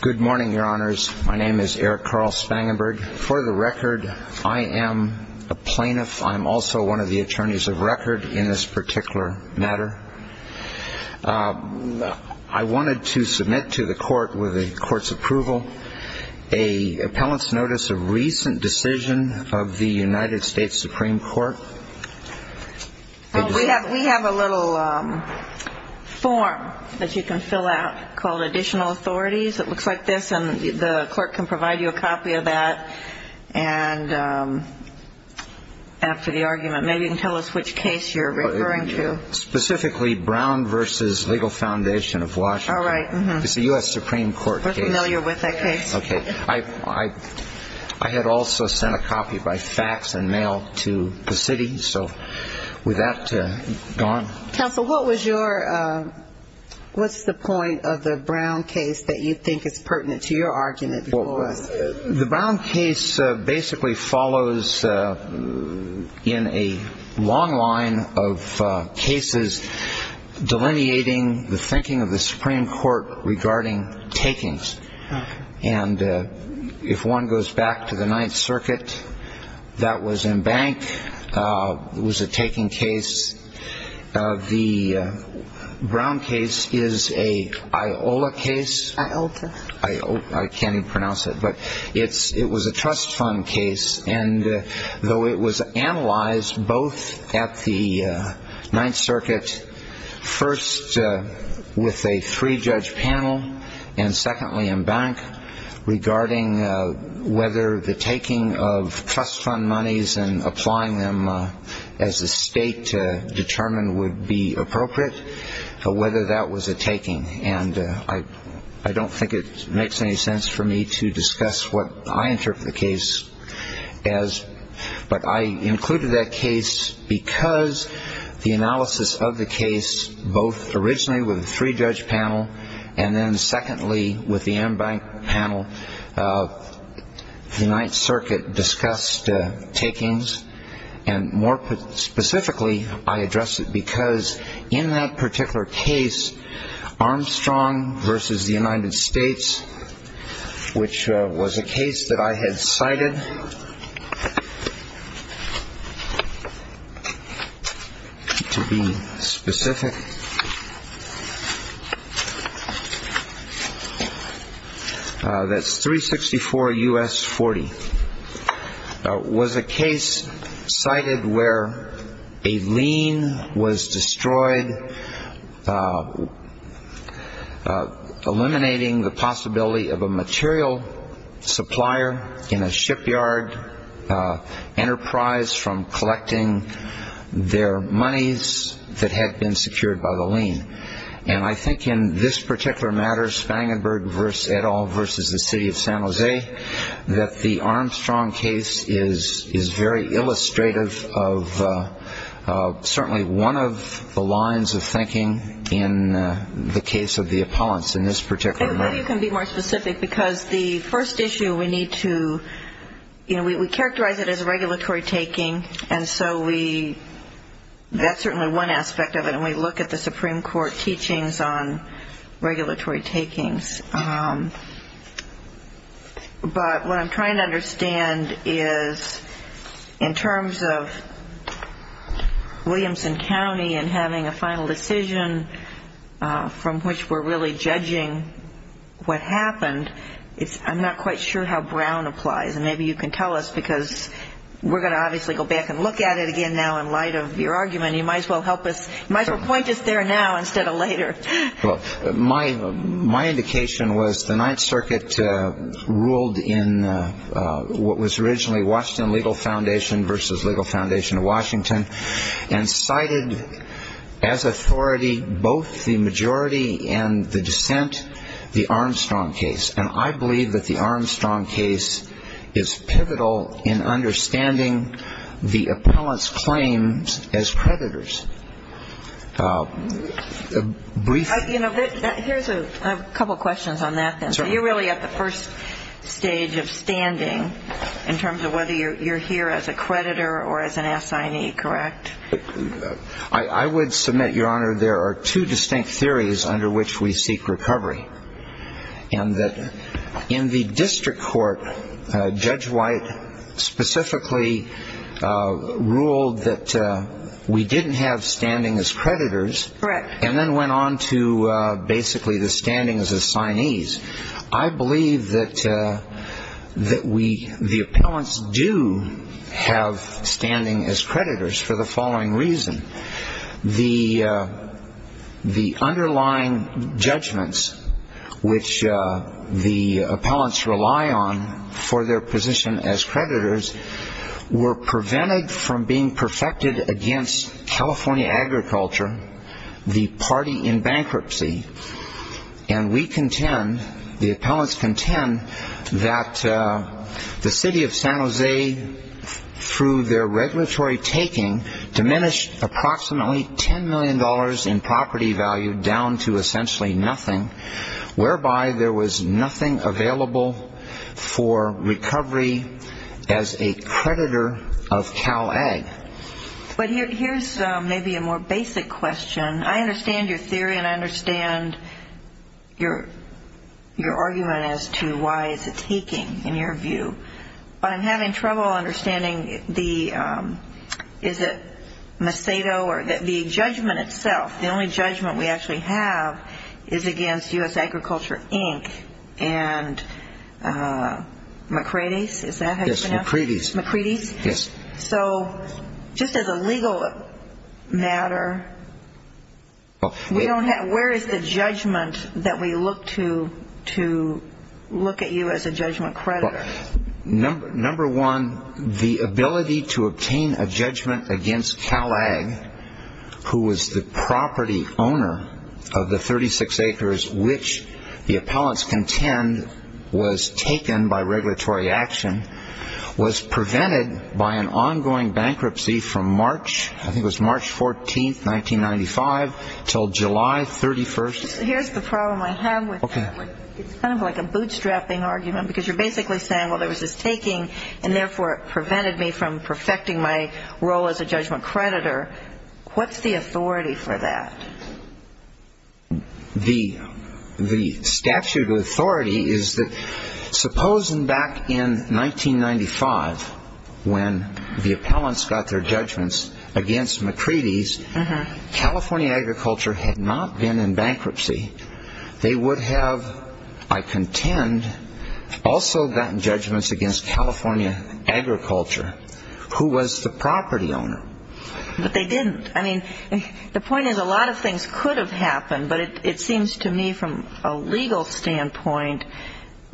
Good morning, your honors. My name is Eric Carl Spangenberg. For the record, I am a plaintiff. I'm also one of the attorneys of record in this particular matter. I wanted to submit to the court with the court's approval a appellant's notice of recent decision of the United States Supreme Court. We have a little form that you can fill out called Additional Authorities. It looks like this and the clerk can provide you a copy of that and after the argument maybe you can tell us which case you're referring to. Specifically Brown v. Legal Foundation of Washington. It's a U.S. Supreme Court case. We're familiar with that case. I had also sent a copy by fax and mail to the city. So with that, gone. Counsel, what was your, what's the point of the Brown case that you think is pertinent to your argument? The Brown case basically follows in a long line of cases delineating the thinking of the Ninth Circuit that was in bank. It was a taking case. The Brown case is a IOLA case. I-O-L-A? I can't even pronounce it. But it's, it was a trust fund case and though it was analyzed both at the Ninth Circuit, first with a three-judge panel and secondly in bank regarding whether the taking of trust fund monies and applying them as a state to determine would be appropriate, whether that was a taking. And I don't think it makes any sense for me to discuss what I interpret the case as. But I included that case because the analysis of the case both originally with a three-judge panel and then secondly with the in-bank panel, the Ninth Circuit discussed takings. And more specifically, I addressed it because in that particular case, Armstrong versus the United States, which was a case that I had cited to be specific, that's 364 U.S. 40, was a case cited where a lien was destroyed eliminating the possibility of a material supplier in a shipyard enterprise from collecting their monies that had been secured by the lien. And I think in this particular matter, Spangenberg versus et al. versus the city of San Jose, that the Armstrong case is very illustrative of certainly one of the lines of thinking in the case of the appellants in this particular matter. Maybe you can be more specific because the first issue we need to, you know, we characterize it as regulatory taking. And so we, that's certainly one aspect of it. And we look at the Supreme Court teachings on regulatory takings. But what I'm trying to understand is in terms of Williamson County and having a final decision from which we're really judging what happened, it's, I'm not quite sure how Brown applies. And maybe you can tell us because we're going to obviously go back and look at it again now in light of your argument. You might as well help us, you might as well point us there now instead of later. Well, my indication was the Ninth Circuit ruled in what was originally Washington Legal Foundation versus Legal Foundation of Washington and cited as authority both the majority and the dissent, the Armstrong case. And I believe that the Armstrong case is pivotal in understanding the appellant's claims as creditors. Briefly. You know, here's a couple questions on that then. So you're really at the first stage of standing in terms of whether you're here as a creditor or as an assignee, correct? I would submit, Your Honor, there are two distinct theories under which we seek recovery. And that in the district court, Judge White specifically ruled that we didn't have standing as creditors. Correct. And then went on to basically the standing as assignees. I believe that we, the appellants do have standing as creditors for the following reason. The underlying judgments which the appellants rely on for their position as creditors were prevented from being perfected against California agriculture, the party in bankruptcy. And we contend, the appellants contend that the city of San Jose, through their regulatory taking, diminished approximately $10 million in property value down to essentially nothing, whereby there was nothing available for recovery as a creditor of Cal Ag. But here's maybe a more basic question. I understand your theory and I understand your argument as to why it's a taking in your view. But I'm having trouble understanding the, is it Macedo or the judgment itself, the only judgment we actually have is against U.S. Agriculture, Inc. and McCready's? Is that how you pronounce it? Yes, McCready's. McCready's? Yes. So just as a legal matter, we don't have, where is the judgment that we look to, to look at you as a judgment creditor? Number one, the ability to obtain a judgment against Cal Ag, who was the property owner of the 36 acres which the appellants contend was taken by regulatory action, was prevented by an ongoing bankruptcy from March, I think it was March 14th, 1995, until July 31st. Here's the problem I have with it. It's kind of like a bootstrapping argument because you're basically saying, well, there was this taking and therefore it prevented me from perfecting my role as a judgment creditor. What's the authority for that? The statute of authority is that supposing back in 1995 when the appellants got their bankruptcy, they would have, I contend, also gotten judgments against California Agriculture, who was the property owner. But they didn't. I mean, the point is a lot of things could have happened, but it seems to me from a legal standpoint,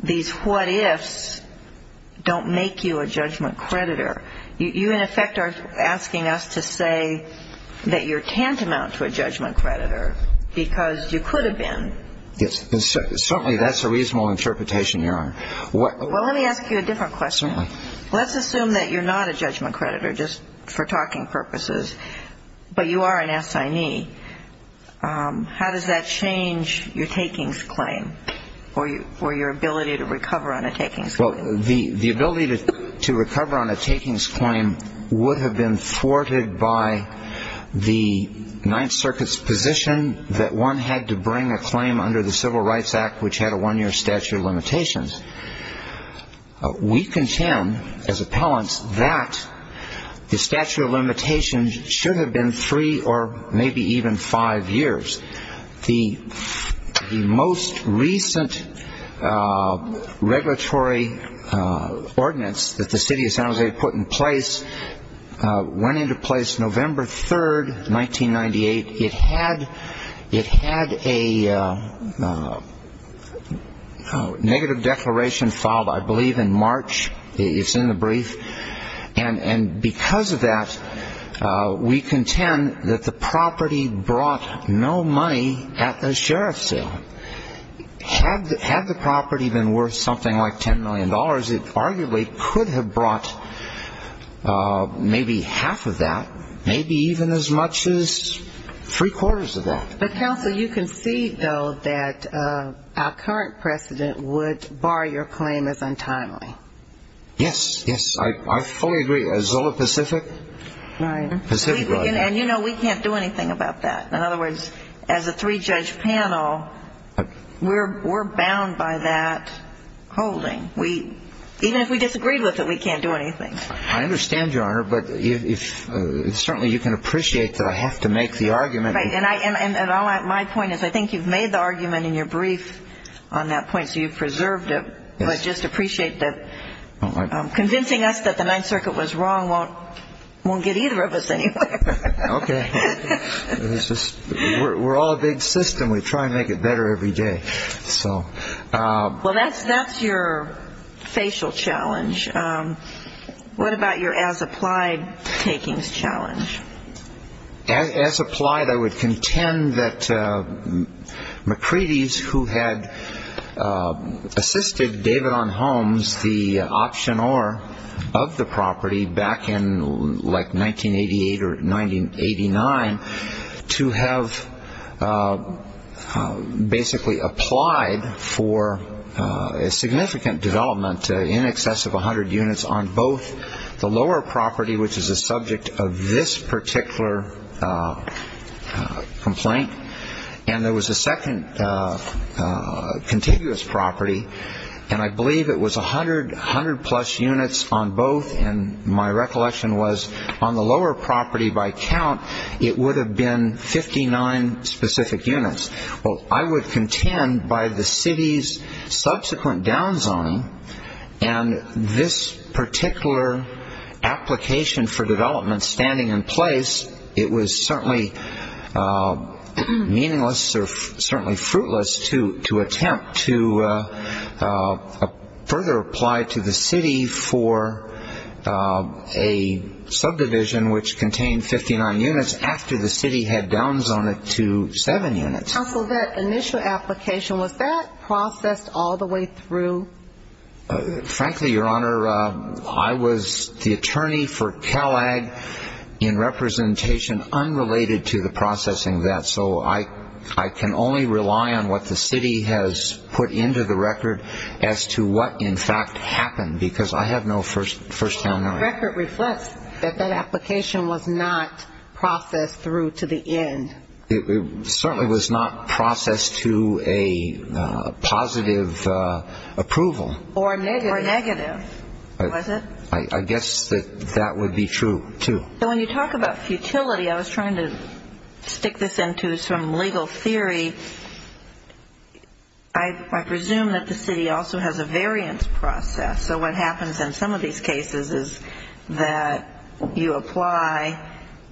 these what ifs don't make you a judgment creditor. You in effect are asking us to say that you're tantamount to a judgment creditor because you could have been. Yes. Certainly that's a reasonable interpretation, Your Honor. Well, let me ask you a different question. Let's assume that you're not a judgment creditor just for talking purposes, but you are an assignee. How does that change your takings claim or your ability to recover on a takings claim? Well, the ability to recover on a takings claim would have been thwarted by the Ninth Circuit's position that one had to bring a claim under the Civil Rights Act which had a one-year statute of limitations. We contend as appellants that the statute of limitations should have been three or maybe even five years. The most recent regulatory ordinance that the City of San Jose put in place went into place November 3rd, 1998. It had a negative declaration filed, I believe, in March. It's in the brief. And because of that, we contend that the property brought no money to the sheriff's sale. Had the property been worth something like $10 million, it arguably could have brought maybe half of that, maybe even as much as three-quarters of that. But, Counsel, you concede, though, that our current precedent would bar your claim as untimely. Yes. Yes. I fully agree. Azula Pacific? Right. Pacific, right. And, you know, we can't do anything about that. In other words, as a three-judge panel, we're bound by that holding. Even if we disagreed with it, we can't do anything. I understand, Your Honor, but certainly you can appreciate that I have to make the argument. Right. And my point is I think you've made the argument in your brief on that point, so you've preserved it. But just appreciate that convincing us that the Ninth Circuit was wrong won't get either of us anywhere. Okay. We're all a big system. We try and make it better every day. Well, that's your facial challenge. What about your as-applied takings challenge? As-applied, I would contend that McCready's, who had assisted David on Holmes, the option or of the property back in like 1988 or 1989 to have basically applied for a significant development in excess of 100 units on both the lower property, which is a subject of this particular complaint, and there was a second contiguous property, and I believe it was 100 plus units on both, and my recollection was on the lower property by count, it would have been 59 specific units. Well, I would contend by the city's subsequent downzoning and this particular application for development standing in place, it was certainly meaningless or certainly fruitless to attempt to further apply to the city for a subdivision which contained 59 units after the city had downzoned it to 7 units. Counsel, that initial application, was that processed all the way through? Frankly, Your Honor, I was the attorney for Kellagg in representation unrelated to the processing of that, so I can only rely on what the city has put into the record as to what in fact happened, because I have no first-hand knowledge. The record reflects that that application was not processed through to the end. It certainly was not processed to a positive approval. Or negative, was it? I guess that that would be true, too. So when you talk about futility, I was trying to stick this into some legal theory. I presume that the city also has a variance process, so what happens in some of these cases is that you apply,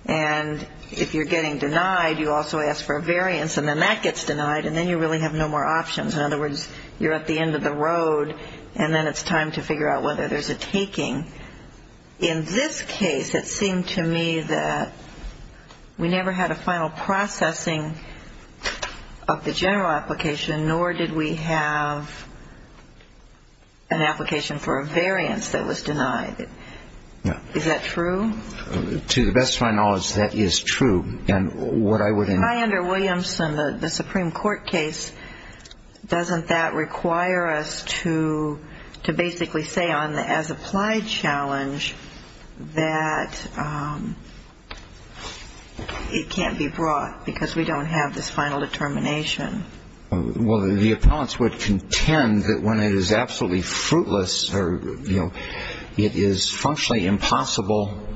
and if you're getting denied, you also ask for a variance, and then that gets denied, and then you really have no more options. In other words, you're at the end of the road, and then it's time to figure out whether there's a taking. In this case, it seemed to me that we never had a final processing of the general application, nor did we have an application for a variance that was denied. Is that true? To the best of my knowledge, that is true. If I enter Williamson, the Supreme Court case, doesn't that require us to basically say on the as-applied challenge that it can't be brought because we don't have this final determination? Well, the appellants would contend that when it is absolutely fruitless or it is functionally impossible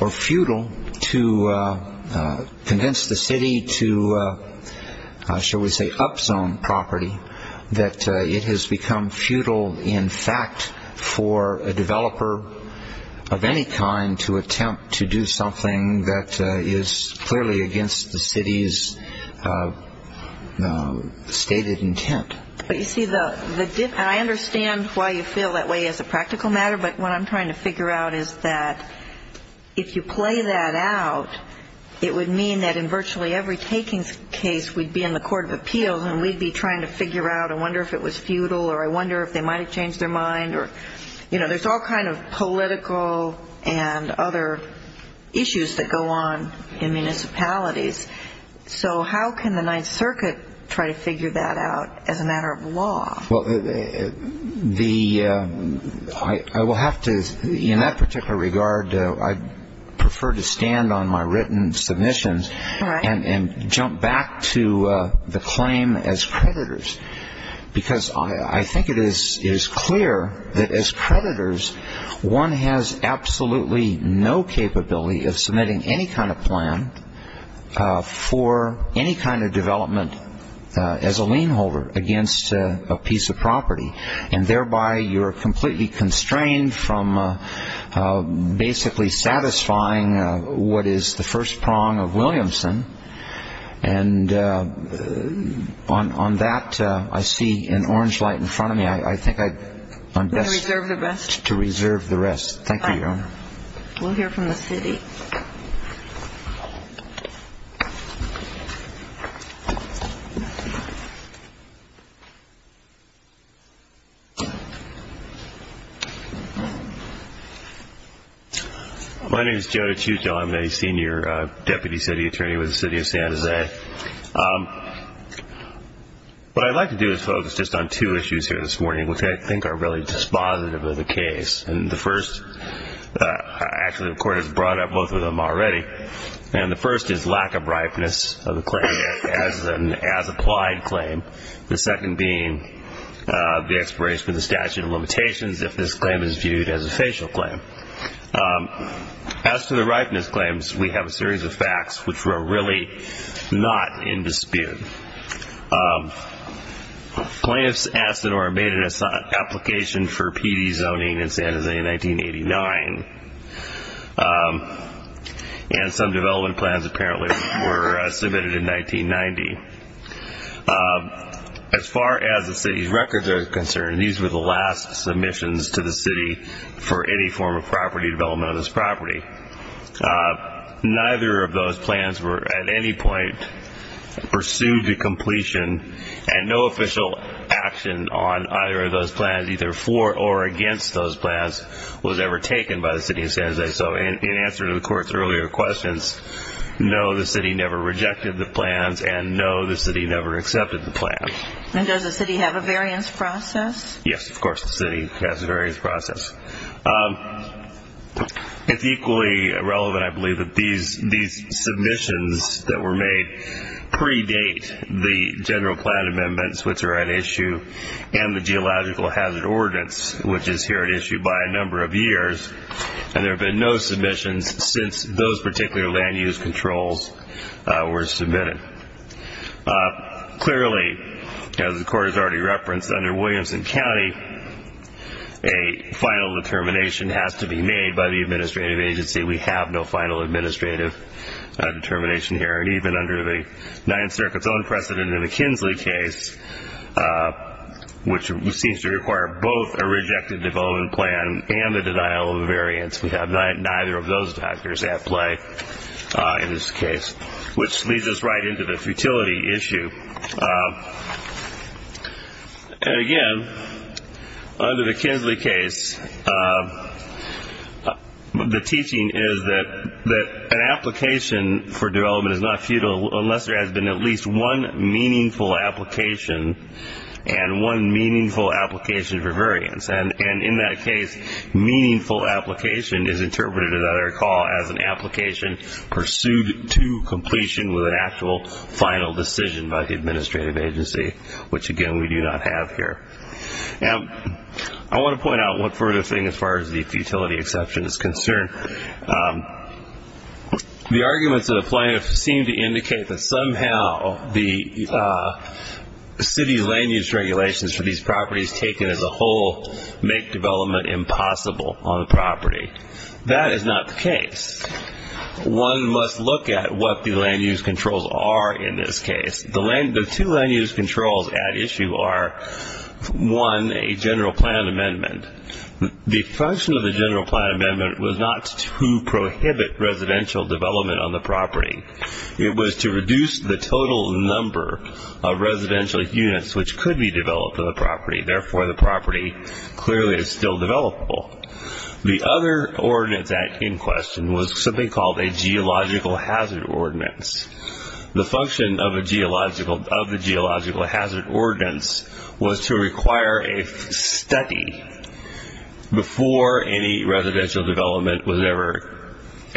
or futile to convince the city to, shall we say, up-zone property, that it has become futile, in fact, for a developer of any kind to attempt to do something that is clearly against the city's stated intent. But you see, I understand why you feel that way as a practical matter, but what I'm trying to figure out is that if you play that out, it would mean that in virtually every takings case we'd be in the Court of Appeals and we'd be trying to figure out, I wonder if it was futile, or I wonder if they might have changed their mind. You know, there's all kind of political and other issues that go on in municipalities. So how can the Ninth Circuit try to figure that out as a matter of law? Well, I will have to, in that particular regard, I prefer to stand on my written submissions and jump back to the claim as creditors because I think it is clear that as creditors one has absolutely no capability of submitting any kind of plan for any kind of development as a lien holder against a piece of property, and thereby you're completely constrained from basically satisfying what is the first prong of Williamson. And on that I see an orange light in front of me. I think I'm best to reserve the rest. Thank you, Your Honor. We'll hear from the city. My name is Joe DiCiccio. I'm a senior deputy city attorney with the City of San Jose. What I'd like to do is focus just on two issues here this morning, which I think are really dispositive of the case. And the first, actually the Court has brought up both of them already, and the first is lack of ripeness of the claim as an as-applied claim, the second being the expiration of the statute of limitations if this claim is viewed as a facial claim. As to the ripeness claims, we have a series of facts which were really not in dispute. Plaintiffs asked or made an application for PD zoning in San Jose in 1989, and some development plans apparently were submitted in 1990. As far as the city's records are concerned, these were the last submissions to the city for any form of property development on this property. Neither of those plans were at any point pursued to completion, and no official action on either of those plans, either for or against those plans, was ever taken by the City of San Jose. So in answer to the Court's earlier questions, no, the city never rejected the plans, and no, the city never accepted the plans. And does the city have a variance process? Yes, of course the city has a variance process. It's equally relevant, I believe, that these submissions that were made predate the general plan amendments, which are at issue, and the Geological Hazard Ordinance, which is here at issue by a number of years. And there have been no submissions since those particular land use controls were submitted. Clearly, as the Court has already referenced, under Williamson County, a final determination has to be made by the administrative agency. We have no final administrative determination here, and even under the Ninth Circuit's own precedent in the McKinsley case, which seems to require both a rejected development plan and the denial of a variance, we have neither of those factors at play in this case, which leads us right into the futility issue. And again, under the McKinsley case, the teaching is that an application for development is not futile unless there has been at least one meaningful application and one meaningful application for variance. And in that case, meaningful application is interpreted, as I recall, as an application pursued to completion with an actual final decision by the administrative agency, which, again, we do not have here. I want to point out one further thing as far as the futility exception is concerned. The arguments in the plan seem to indicate that somehow the city land use regulations for these properties taken as a whole make development impossible on the property. That is not the case. One must look at what the land use controls are in this case. The two land use controls at issue are, one, a general plan amendment. The function of the general plan amendment was not to prohibit residential development on the property. It was to reduce the total number of residential units which could be developed on the property. Therefore, the property clearly is still developable. The other ordinance in question was something called a geological hazard ordinance. The function of the geological hazard ordinance was to require a study before any residential development was ever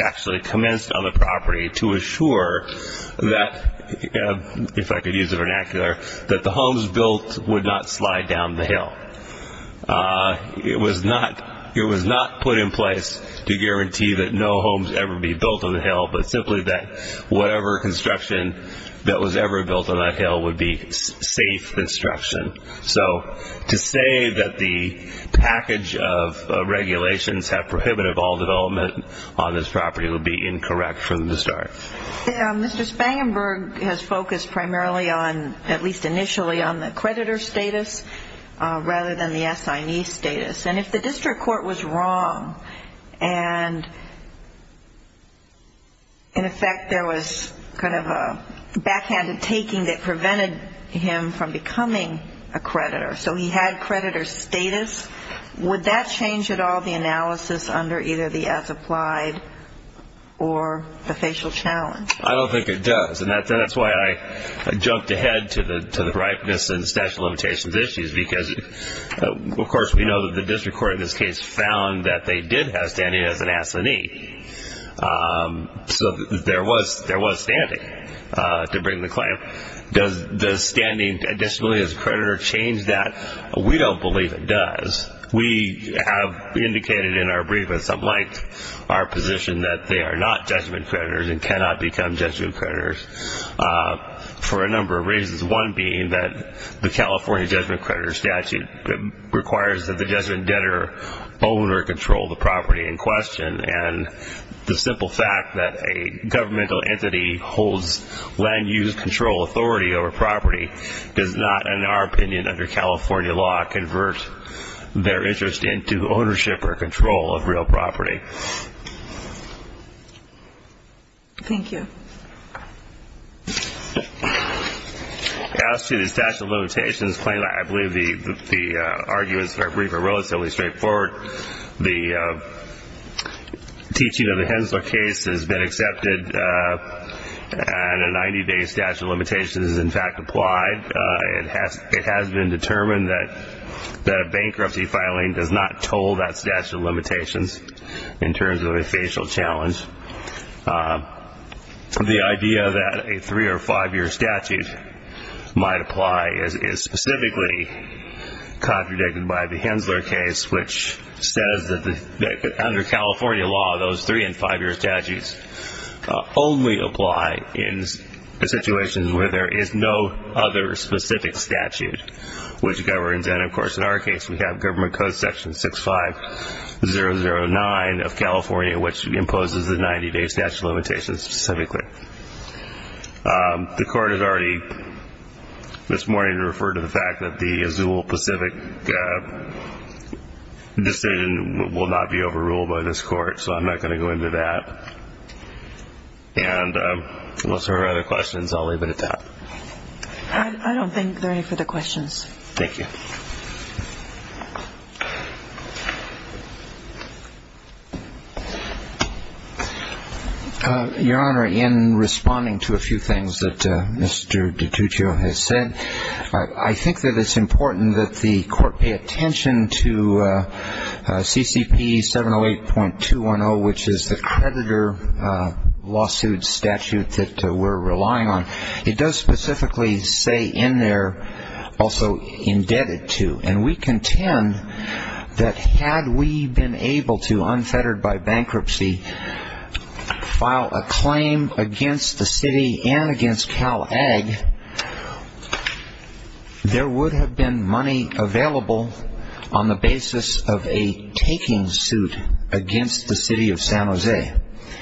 actually commenced on the property to assure that, if I could use the vernacular, that the homes built would not slide down the hill. It was not put in place to guarantee that no homes ever be built on the hill, but simply that whatever construction that was ever built on that hill would be safe construction. So to say that the package of regulations have prohibited all development on this property would be incorrect from the start. Mr. Spangenberg has focused primarily on, at least initially, on the creditor status rather than the assignee status. And if the district court was wrong and, in effect, there was kind of a backhanded taking that prevented him from becoming a creditor, so he had creditor status, would that change at all the analysis under either the as applied or the facial challenge? I don't think it does, and that's why I jumped ahead to the ripeness and statute of limitations issues because, of course, we know that the district court in this case found that they did have standing as an assignee. So there was standing to bring the claim. Does standing additionally as a creditor change that? We don't believe it does. We have indicated in our briefness, unlike our position, that they are not judgment creditors and cannot become judgment creditors for a number of reasons, one being that the California judgment creditor statute requires that the judgment debtor own or control the property in question, and the simple fact that a governmental entity holds land use control authority over property does not, in our opinion under California law, convert their interest into ownership or control of real property. Thank you. As to the statute of limitations claim, I believe the arguments in our brief are relatively straightforward. The teaching of the Hensler case has been accepted, and a 90-day statute of limitations is, in fact, applied. It has been determined that bankruptcy filing does not toll that statute of limitations in terms of a facial challenge. The idea that a three- or five-year statute might apply is specifically contradicted by the Hensler case, which says that under California law, those three- and five-year statutes only apply in situations where there is no other specific statute which governs. And, of course, in our case, we have Government Code Section 6509 of California, which imposes the 90-day statute of limitations specifically. The Court has already this morning referred to the fact that the Azul Pacific decision will not be overruled by this Court, so I'm not going to go into that. And unless there are other questions, I'll leave it at that. I don't think there are any further questions. Thank you. Your Honor, in responding to a few things that Mr. DiGiugio has said, I think that it's important that the Court pay attention to CCP 708.210, which is the creditor lawsuit statute that we're relying on. It does specifically say in there, also, indebted to. And we contend that had we been able to, unfettered by bankruptcy, file a claim against the city and against Cal-Ag, there would have been money available on the basis of a taking suit against the city of San Jose.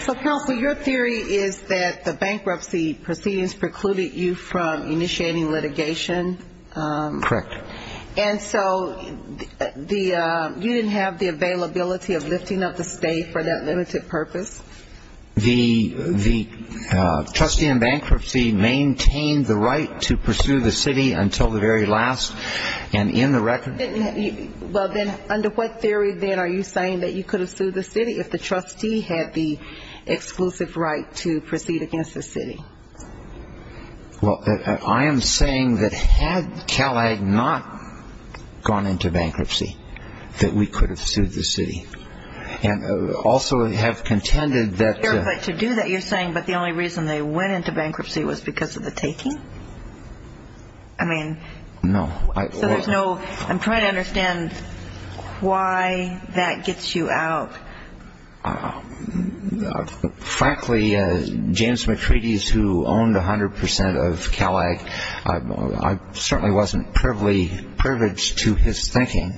So, counsel, your theory is that the bankruptcy proceedings precluded you from initiating litigation? Correct. And so you didn't have the availability of lifting up the state for that limited purpose? The trustee in bankruptcy maintained the right to pursue the city until the very last, and in the record. Well, then, under what theory, then, are you saying that you could have sued the city if the trustee had the exclusive right to proceed against the city? Well, I am saying that had Cal-Ag not gone into bankruptcy, that we could have sued the city. And also have contended that... But to do that, you're saying that the only reason they went into bankruptcy was because of the taking? I mean... No. So there's no... I'm trying to understand why that gets you out. Frankly, James Matritis, who owned 100% of Cal-Ag, I certainly wasn't privileged to his thinking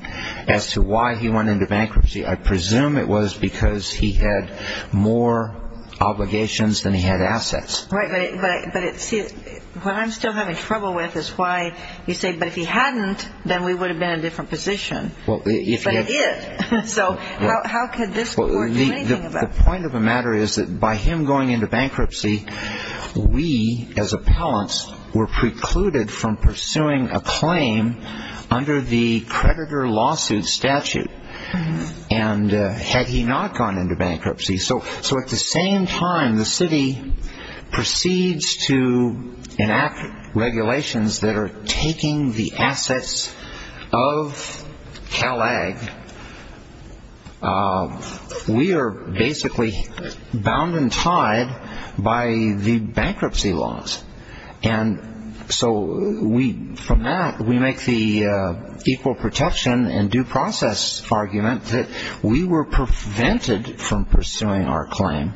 as to why he went into bankruptcy. I presume it was because he had more obligations than he had assets. Right. But see, what I'm still having trouble with is why you say, but if he hadn't, then we would have been in a different position. Well, if he had... So how could this court do anything about it? The point of the matter is that by him going into bankruptcy, we, as appellants, were precluded from pursuing a claim under the creditor lawsuit statute. And had he not gone into bankruptcy... So at the same time the city proceeds to enact regulations that are taking the assets of Cal-Ag, we are basically bound and tied by the bankruptcy laws. And so from that, we make the equal protection and due process argument that we were prevented from pursuing our claim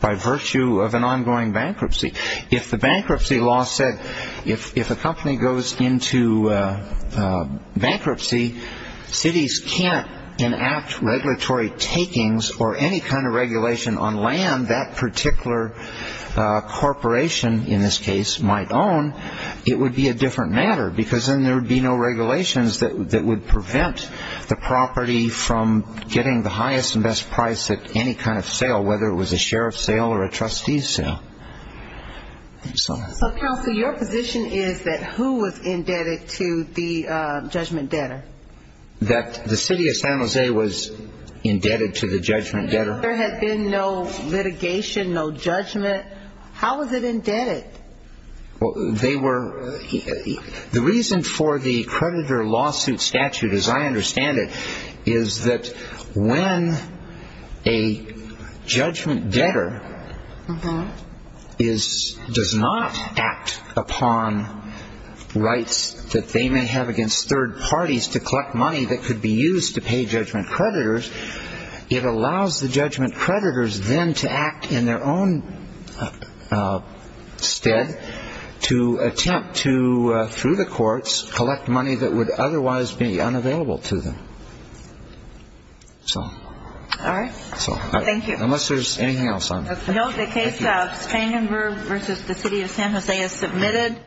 by virtue of an ongoing bankruptcy. If the bankruptcy law said, if a company goes into bankruptcy, cities can't enact regulatory takings or any kind of regulation on land that a particular corporation, in this case, might own, it would be a different matter. Because then there would be no regulations that would prevent the property from getting the highest and best price at any kind of sale, whether it was a sheriff's sale or a trustee's sale. So counsel, your position is that who was indebted to the judgment debtor? That the city of San Jose was indebted to the judgment debtor? If there had been no litigation, no judgment, how was it indebted? The reason for the creditor lawsuit statute, as I understand it, is that when a judgment debtor does not act upon rights that they may have against third parties to collect money that could be used to pay judgment creditors, it allows the judgment creditors then to act in their own stead to attempt to, through the courts, collect money that would otherwise be unavailable to them. All right. Thank you. Unless there's anything else on it. No. The case of Stangenberg v. The City of San Jose is submitted.